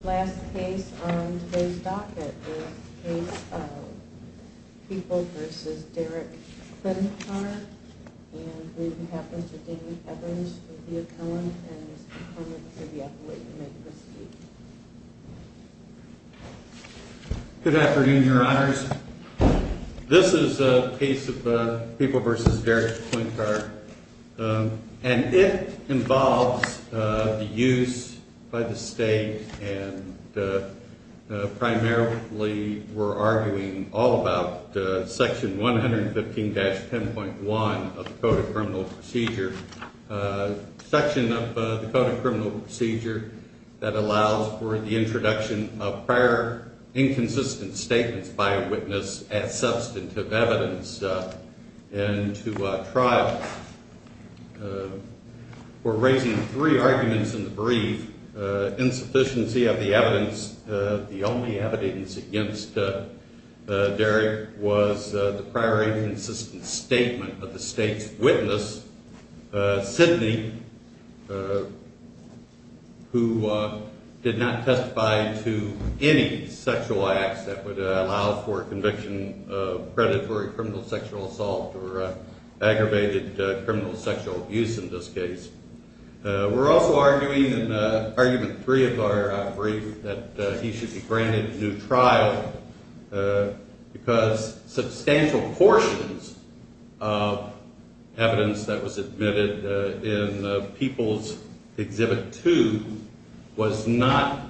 The last case on today's docket is the case of People v. Derrick Klincar and we have Mr. Danny Evans with the appellant and Mr. Coleman with the appellate, you may proceed. Good afternoon, your honors. This is a case of People v. Derrick Klincar and it involves the use by the state and primarily we're arguing all about section 115-10.1 of the Code of Criminal Procedure, section of the Code of Criminal Procedure that allows for the introduction of prior inconsistent statements by a witness as substantive evidence and to trial. We're raising three arguments in the brief. Insufficiency of the evidence, the only evidence against Derrick was the prior inconsistent statement of the state's witness, Sidney, who did not testify to any sexual acts that would allow for conviction of predatory criminal sexual assault or aggravated criminal sexual abuse in this case. We're also arguing in argument three of our brief that he should be granted new trial because substantial portions of evidence that was admitted in People's Exhibit 2 was not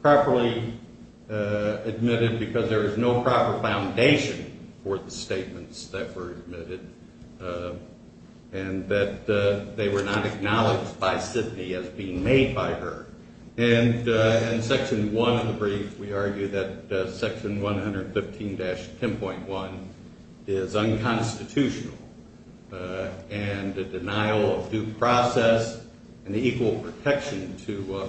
properly admitted because there was no proper foundation for the statements that were admitted. And that they were not acknowledged by Sidney as being made by her. And in section one of the brief, we argue that section 115-10.1 is unconstitutional and a denial of due process and equal protection to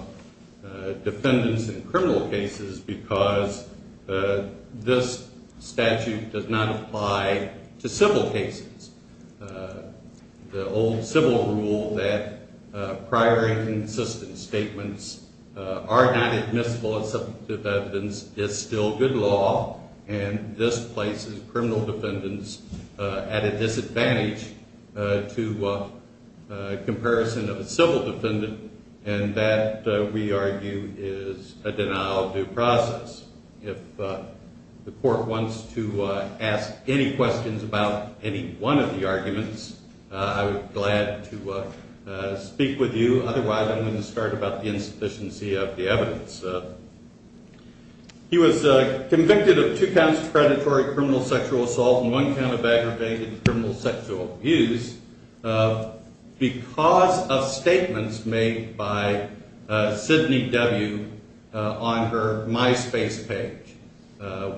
defendants in criminal cases because this statute does not apply to civil cases. The old civil rule that prior inconsistent statements are not admissible as substantive evidence is still good law and this places criminal defendants at a disadvantage to comparison of a civil defendant and that, we argue, is a denial of due process. If the court wants to ask any questions about any one of the arguments, I would be glad to speak with you. Otherwise, I'm going to start about the insufficiency of the evidence. He was convicted of two counts of predatory criminal sexual assault and one count of aggravated criminal sexual abuse because of statements made by Sidney W. on her MySpace page.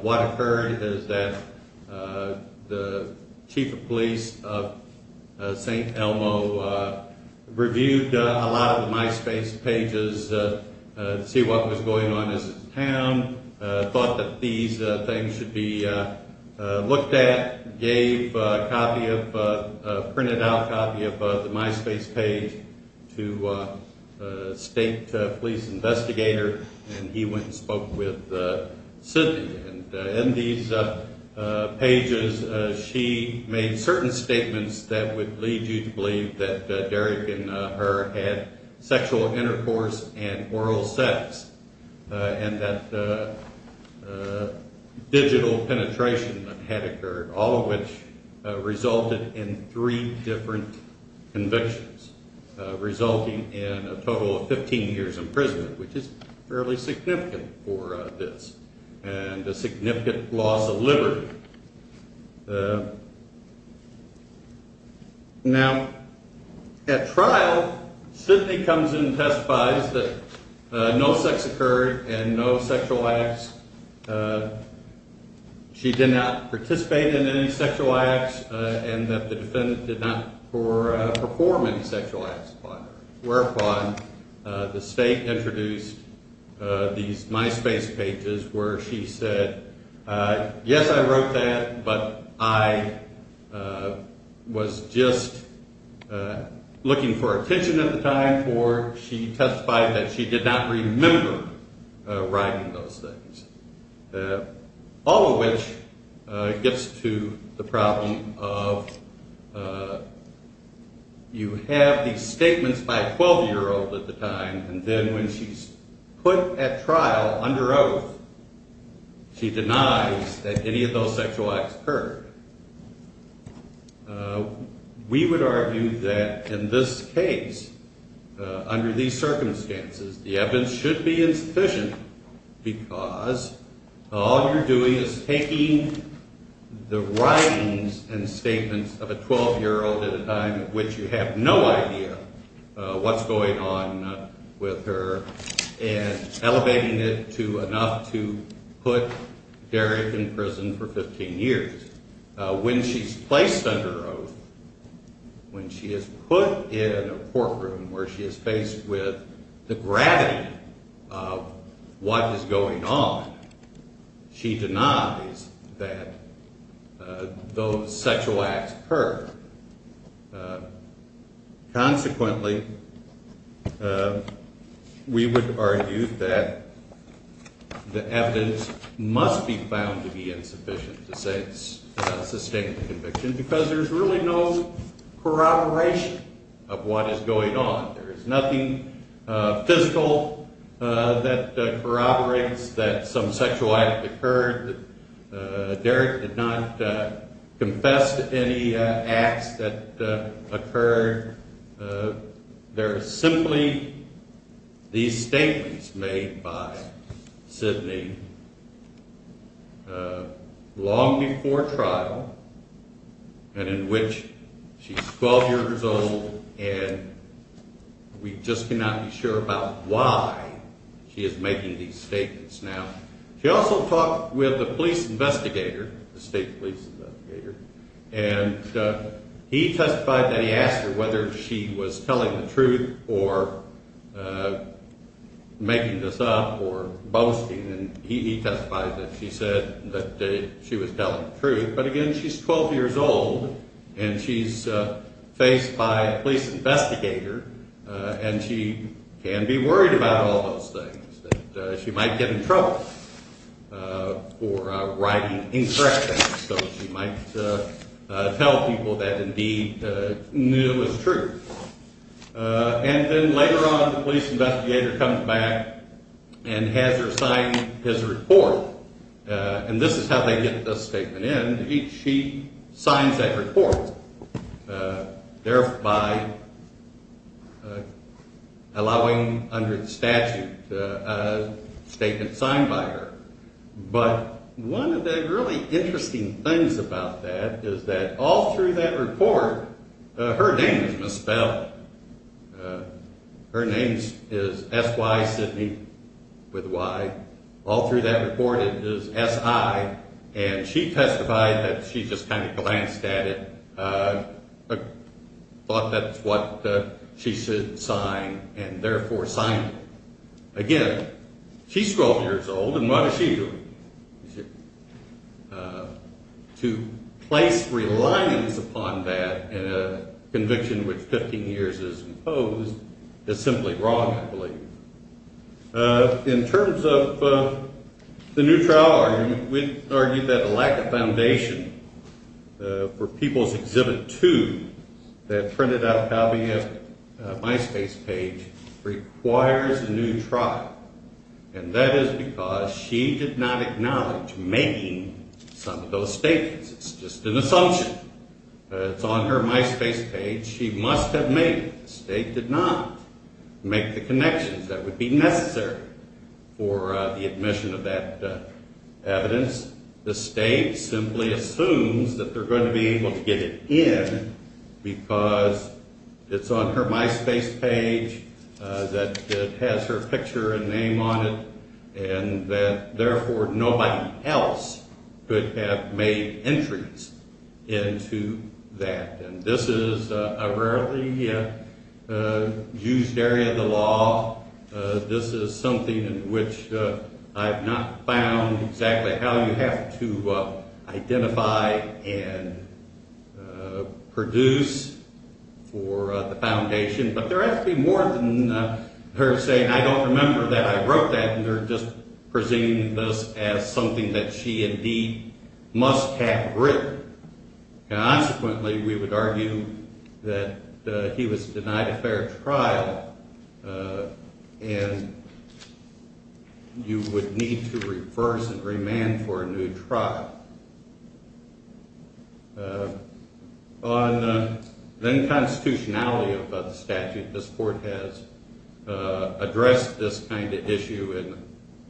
What occurred is that the chief of police of St. Elmo reviewed a lot of the MySpace pages to see what was going on in his town, thought that these things should be looked at, gave a printed out copy of the MySpace page to a state police investigator and he went and spoke with Sidney. In these pages, she made certain statements that would lead you to believe that Derek and her had sexual intercourse and oral sex and that digital penetration had occurred, all of which resulted in three different convictions, resulting in a total of 15 years in prison, which is fairly significant for this. And a significant loss of liberty. Now, at trial, Sidney comes in and testifies that no sex occurred and no sexual acts. She did not participate in any sexual acts and that the defendant did not perform any sexual acts whereupon the state introduced these MySpace pages where she said, yes, I wrote that, but I was just looking for attention at the time for she testified that she did not remember writing those things. All of which gets to the problem of you have these statements by a 12-year-old at the time and then when she's put at trial under oath, she denies that any of those sexual acts occurred. We would argue that in this case, under these circumstances, the evidence should be insufficient because all you're doing is taking the writings and statements of a 12-year-old at a time at which you have no idea what's going on with her and elevating it to enough to put Derek in prison for 15 years. When she's placed under oath, when she is put in a courtroom where she is faced with the gravity of what is going on, she denies that those sexual acts occurred. Consequently, we would argue that the evidence must be found to be insufficient to sustain the conviction because there's really no corroboration of what is going on. There is nothing physical that corroborates that some sexual act occurred. Derek did not confess to any acts that occurred. There are simply these statements made by Sidney long before trial and in which she's 12 years old and we just cannot be sure about why she is making these statements now. She also talked with the police investigator, the state police investigator, and he testified that he asked her whether she was telling the truth or making this up or boasting and he testified that she said that she was telling the truth. But again, she's 12 years old and she's faced by a police investigator and she can be worried about all those things that she might get in trouble for writing incorrect things. So she might tell people that indeed it was true. And then later on the police investigator comes back and has her sign his report and this is how they get the statement in. And indeed she signs that report, thereby allowing under the statute a statement signed by her. But one of the really interesting things about that is that all through that report her name is misspelled. Her name is S.Y. Sidney with a Y. All through that report it is S.I. and she testified that she just kind of glanced at it, thought that's what she should sign and therefore signed it. Again, she's 12 years old and what is she doing? To place reliance upon that in a conviction which 15 years is imposed is simply wrong, I believe. In terms of the new trial argument, we'd argue that a lack of foundation for People's Exhibit 2 that printed out probably at MySpace page requires a new trial and that is because she did not acknowledge making some of those statements. It's just an assumption. It's on her MySpace page. She must have made it. The state did not make the connections that would be necessary for the admission of that evidence. The state simply assumes that they're going to be able to get it in because it's on her MySpace page, that it has her picture and name on it and that therefore nobody else could have made entries into that. And this is a rarely used area of the law. This is something in which I have not found exactly how you have to identify and produce for the foundation. But there has to be more than her saying, I don't remember that I wrote that and they're just presenting this as something that she indeed must have written. And consequently we would argue that he was denied a fair trial and you would need to reverse and remand for a new trial. On the constitutionality of the statute, this Court has addressed this kind of issue in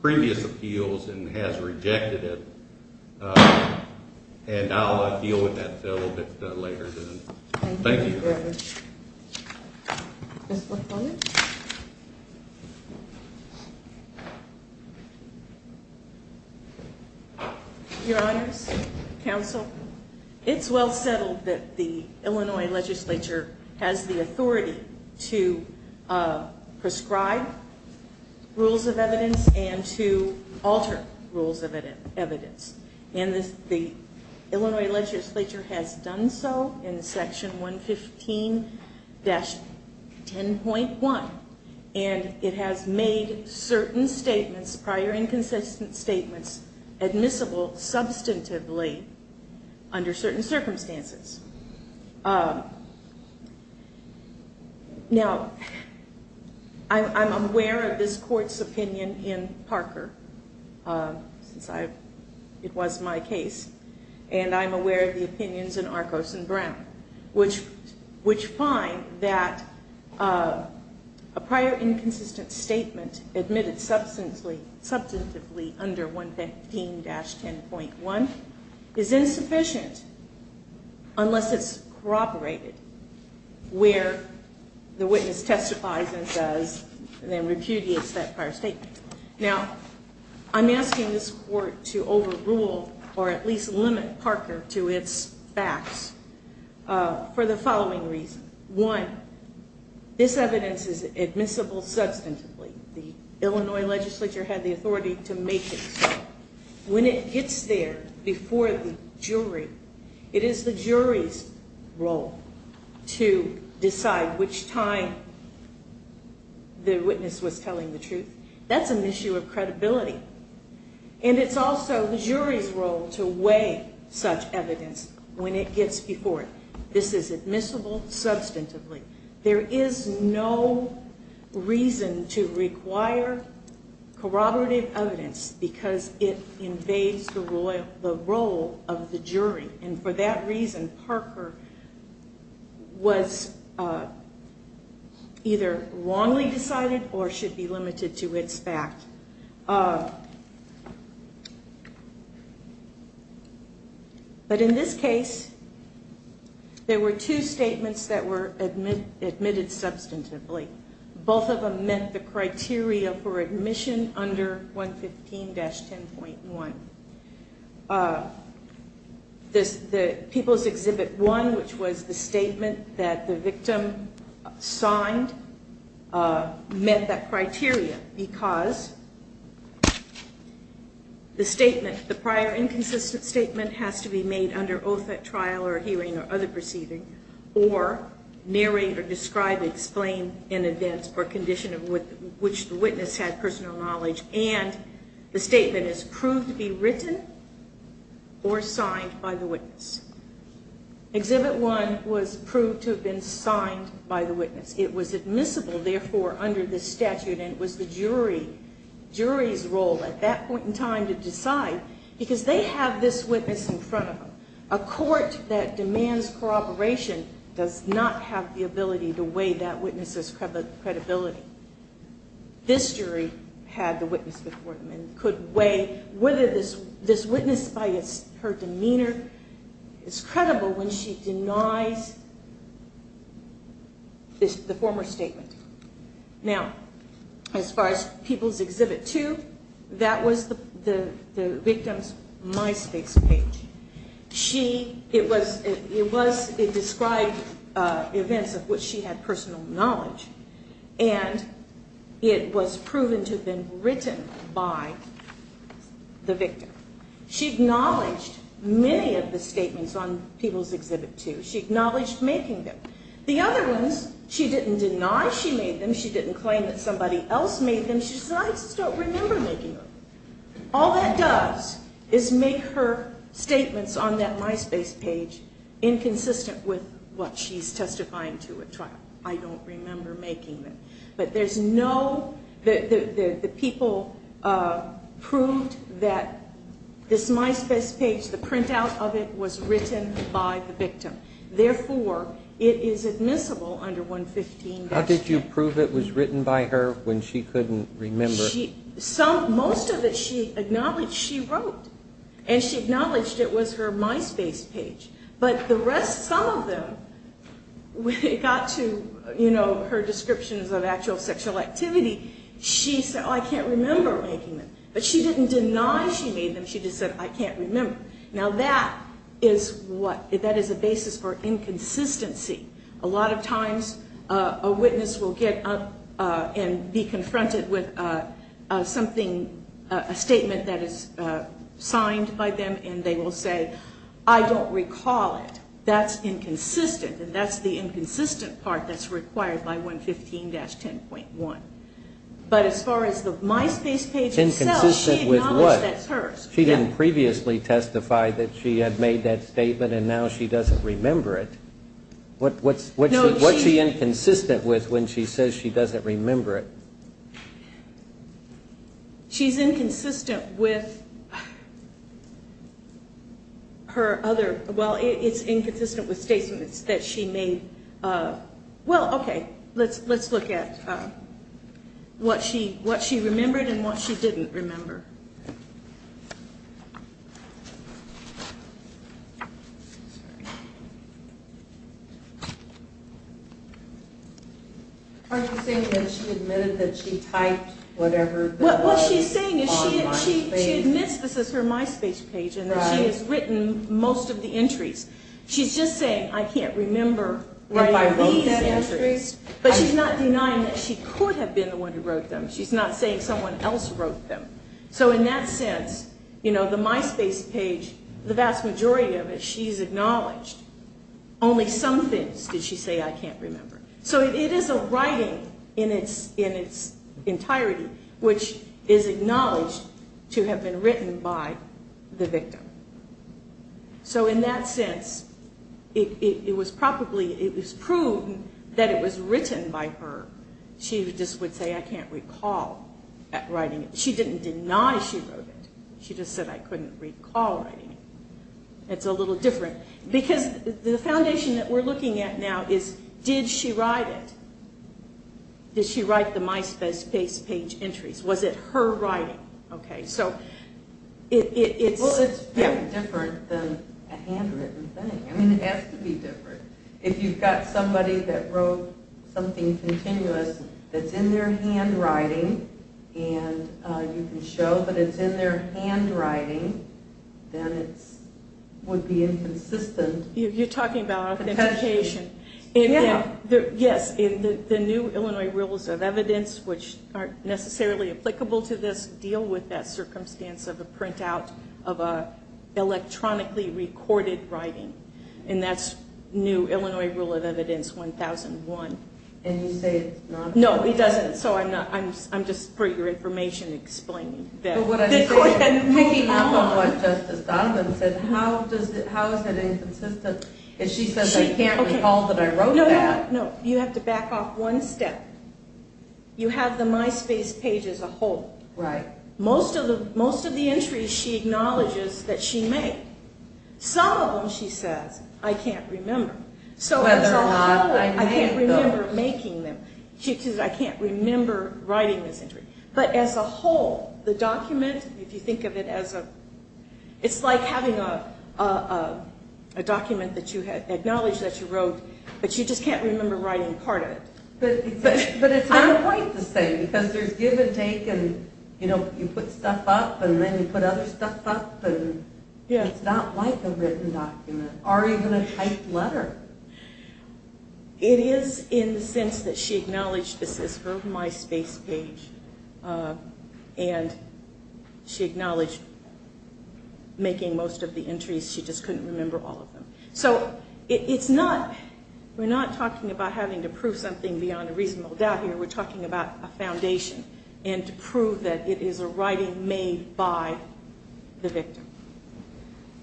previous appeals and has rejected it. And I'll deal with that a little bit later. Thank you. Your Honors, Counsel, it's well settled that the Illinois legislature has the authority to prescribe rules of evidence and to alter rules of evidence. And the Illinois legislature has done so in section 115-10.1 and it has made certain statements, prior inconsistent statements, admissible substantively under certain circumstances. Now, I'm aware of this Court's opinion in Parker, since it was my case, and I'm aware of the opinions in Arcos and Brown, which find that a prior inconsistent statement admitted substantively under 115-10.1 is insufficient unless it's corroborated where the witness testifies and repudiates that prior statement. Now, I'm asking this Court to overrule or at least limit Parker to its facts for the following reasons. One, this evidence is admissible substantively. The Illinois legislature had the authority to make it so. When it gets there before the jury, it is the jury's role to decide which time the witness was telling the truth. That's an issue of credibility. And it's also the jury's role to weigh such evidence when it gets before it. This is admissible substantively. There is no reason to require corroborative evidence because it invades the role of the jury. And for that reason, Parker was either wrongly decided or should be limited to its fact. But in this case, there were two statements that were admitted substantively. Both of them met the criteria for admission under 115-10.1. The People's Exhibit 1, which was the statement that the victim signed, met that criteria because the statement, the prior inconsistent statement has to be made under oath at trial or hearing or other proceeding or narrate or describe, explain in advance or condition in which the witness had personal knowledge. And the statement is proved to be written or signed by the witness. Exhibit 1 was proved to have been signed by the witness. It was admissible, therefore, under this statute and it was the jury's role at that point in time to decide because they have this witness in front of them. A court that demands corroboration does not have the ability to weigh that witness's credibility. This jury had the witness before them and could weigh whether this witness by her demeanor is credible when she denies the former statement. Now, as far as People's Exhibit 2, that was the victim's MySpace page. It described events of which she had personal knowledge and it was proven to have been written by the victim. She acknowledged many of the statements on People's Exhibit 2. She acknowledged making them. The other ones, she didn't deny she made them. She didn't claim that somebody else made them. She said, I just don't remember making them. All that does is make her statements on that MySpace page inconsistent with what she's testifying to at trial. I don't remember making them. But there's no, the people proved that this MySpace page, the printout of it, was written by the victim. Therefore, it is admissible under 115. How did you prove it was written by her when she couldn't remember? Most of it she acknowledged she wrote. And she acknowledged it was her MySpace page. But the rest, some of them, when it got to her descriptions of actual sexual activity, she said, oh, I can't remember making them. But she didn't deny she made them. She just said, I can't remember. Now that is what, that is a basis for inconsistency. A lot of times a witness will get up and be confronted with something, a statement that is signed by them and they will say, I don't recall it. That's inconsistent. And that's the inconsistent part that's required by 115-10.1. But as far as the MySpace page itself, she acknowledged that's hers. She didn't previously testify that she had made that statement and now she doesn't remember it. What's she inconsistent with when she says she doesn't remember it? She's inconsistent with her other, well, it's inconsistent with statements that she made. Well, okay, let's look at what she remembered and what she didn't remember. What she's saying is she admits this is her MySpace page and that she has written most of the entries. She's just saying, I can't remember if I wrote these entries. But she's not denying that she could have been the one who wrote them. She's not saying someone else wrote them. So in that sense, you know, the MySpace page, the vast majority of it, she's acknowledged only some things did she say I can't remember. So it is a writing in its entirety which is acknowledged to have been written by the victim. So in that sense, it was probably, it was proved that it was written by her. She just would say I can't recall writing it. She didn't deny she wrote it. She just said I couldn't recall writing it. It's a little different because the foundation that we're looking at now is did she write it? Did she write the MySpace page entries? Was it her writing? Okay, so it's different than a handwritten thing. I mean, it has to be different. If you've got somebody that wrote something continuous that's in their handwriting and you can show that it's in their handwriting, then it would be inconsistent. You're talking about authentication. Yes, the new Illinois Rules of Evidence which aren't necessarily applicable to this deal with that circumstance of a printout of an electronically recorded writing. And that's new Illinois Rule of Evidence 1001. And you say it's not? No, it doesn't. So I'm just for your information explaining that. Picking up on what Justice Donovan said, how is it inconsistent if she says I can't recall that I wrote that? No, you have to back off one step. You have the MySpace page as a whole. Most of the entries she acknowledges that she made. Some of them she says I can't remember. So as a whole, I can't remember making them. She says I can't remember writing this entry. But as a whole, the document, if you think of it as a, it's like having a document that you had acknowledged that you wrote, but you just can't remember writing part of it. But it's not quite the same because there's give and take and you put stuff up and then you put other stuff up and it's not like a written document or even a typed letter. It is in the sense that she acknowledged this is her MySpace page and she acknowledged making most of the entries, she just couldn't remember all of them. So it's not, we're not talking about having to prove something beyond a reasonable doubt here. We're talking about a foundation and to prove that it is a writing made by the victim.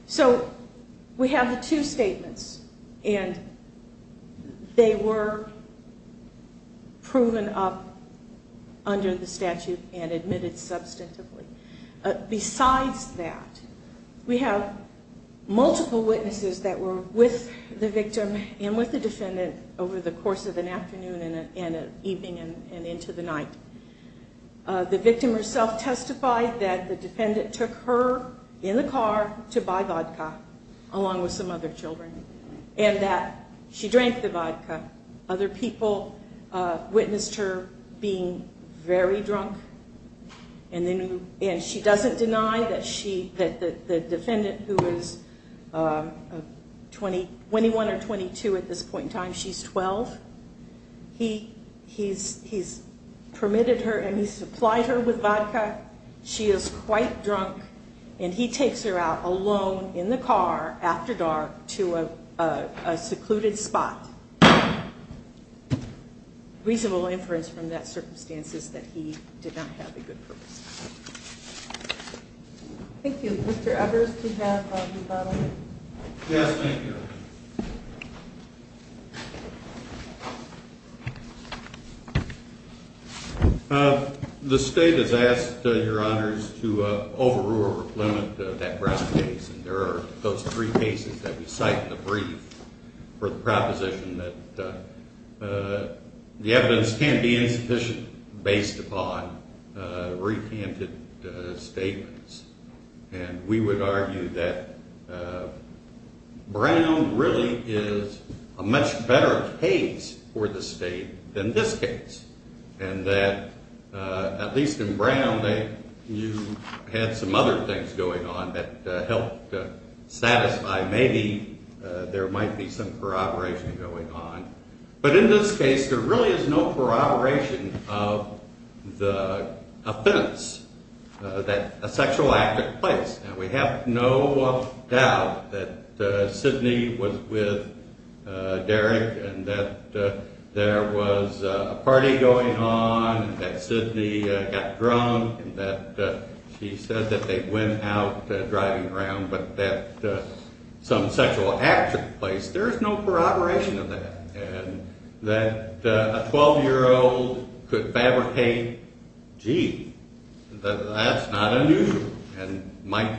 So we have the two statements and they were proven up under the statute and admitted substantively. Besides that, we have multiple witnesses that were with the victim and with the defendant over the course of an afternoon and an evening and into the night. The victim herself testified that the defendant took her in the car to buy vodka along with some other children and that she drank the vodka. Other people witnessed her being very drunk and she doesn't deny that the defendant who is 21 or 22 at this point in time, she's 12. He's permitted her and he supplied her with vodka. She is quite drunk and he takes her out alone in the car after dark to a secluded spot. Reasonable inference from that circumstance is that he did not have a good purpose. Thank you. Mr. Evers, do you have a rebuttal? Yes, thank you. The state has asked, Your Honors, to overrule or limit that Brown case. There are those three cases that we cite in the brief for the proposition that the evidence can't be insufficient based upon recanted statements. We would argue that Brown really is a much better case for the state than this case and that, at least in Brown, you had some other things going on that helped to satisfy maybe there might be some corroboration going on. But in this case, there really is no corroboration of the offense that a sexual act took place. Now, we have no doubt that Sidney was with Derek and that there was a party going on and that Sidney got drunk and that she said that they went out driving around. But that some sexual act took place, there is no corroboration of that. And that a 12-year-old could fabricate, gee, that's not unusual, and might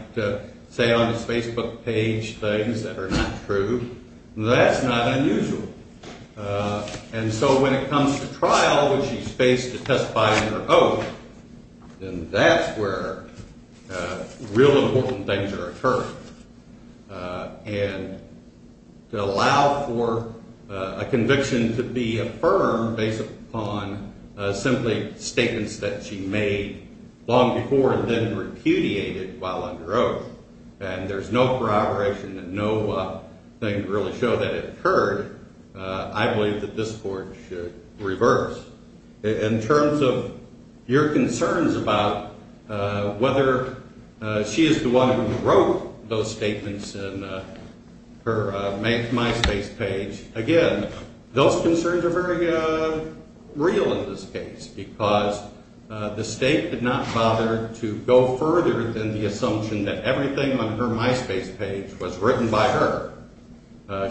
say on his Facebook page things that are not true, that's not unusual. And so when it comes to trial, when she's faced to testify under oath, then that's where real important things are occurring. And to allow for a conviction to be affirmed based upon simply statements that she made long before and then repudiated while under oath, and there's no corroboration and no thing to really show that it occurred, I believe that this Court should reverse. In terms of your concerns about whether she is the one who wrote those statements in her MySpace page, again, those concerns are very real in this case because the State did not bother to go further than the assumption that everything on her MySpace page was written by her.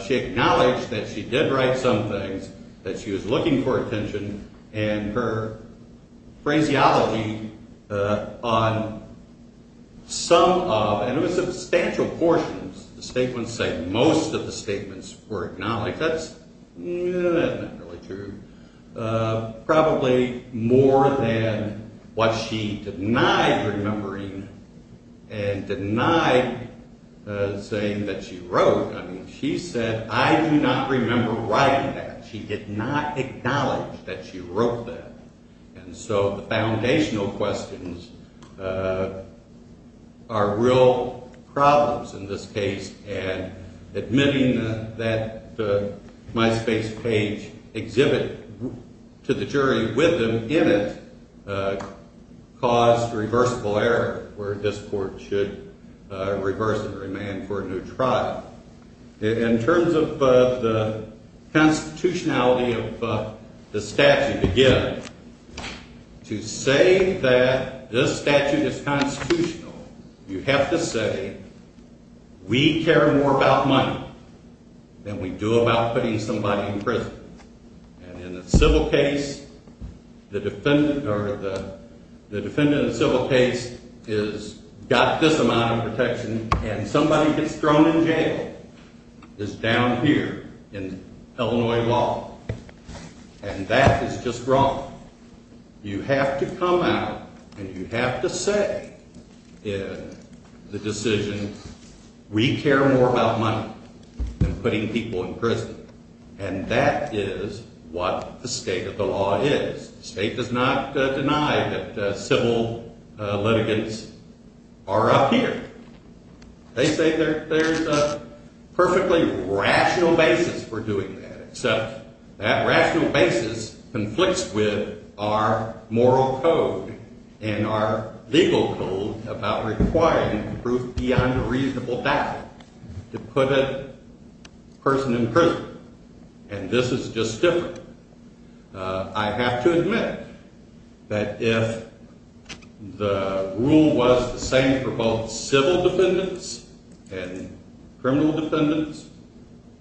She acknowledged that she did write some things, that she was looking for attention, and her phraseology on some of, and it was substantial portions, the statements say most of the statements were acknowledged. That's not really true. Probably more than what she denied remembering and denied saying that she wrote. I mean, she said, I do not remember writing that. She did not acknowledge that she wrote that. And so the foundational questions are real problems in this case, and admitting that the MySpace page exhibit to the jury with them in it caused reversible error where this Court should reverse and remand for a new trial. In terms of the constitutionality of the statute, again, to say that this statute is constitutional, you have to say we care more about money than we do about putting somebody in prison. And in a civil case, the defendant in a civil case has got this amount of protection, and somebody gets thrown in jail is down here in Illinois law, and that is just wrong. You have to come out and you have to say in the decision, we care more about money than putting people in prison. And that is what the state of the law is. The state does not deny that civil litigants are up here. They say there's a perfectly rational basis for doing that, except that rational basis conflicts with our moral code and our legal code about requiring proof beyond a reasonable doubt to put a person in prison, and this is just different. I have to admit that if the rule was the same for both civil defendants and criminal defendants,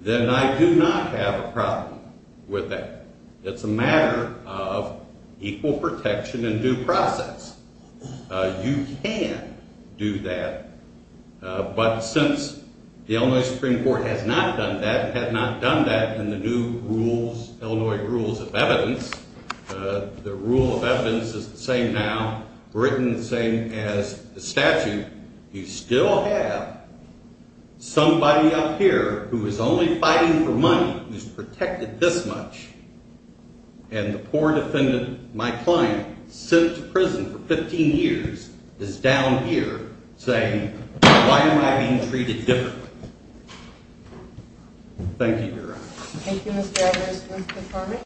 then I do not have a problem with that. It's a matter of equal protection and due process. You can do that, but since the Illinois Supreme Court has not done that, has not done that in the new Illinois rules of evidence, the rule of evidence is the same now, written the same as the statute. You still have somebody up here who is only fighting for money, who is protected this much, and the poor defendant, my client, sent to prison for 15 years, is down here saying, why am I being treated differently? Thank you, Your Honor. Thank you, Mr. Edwards.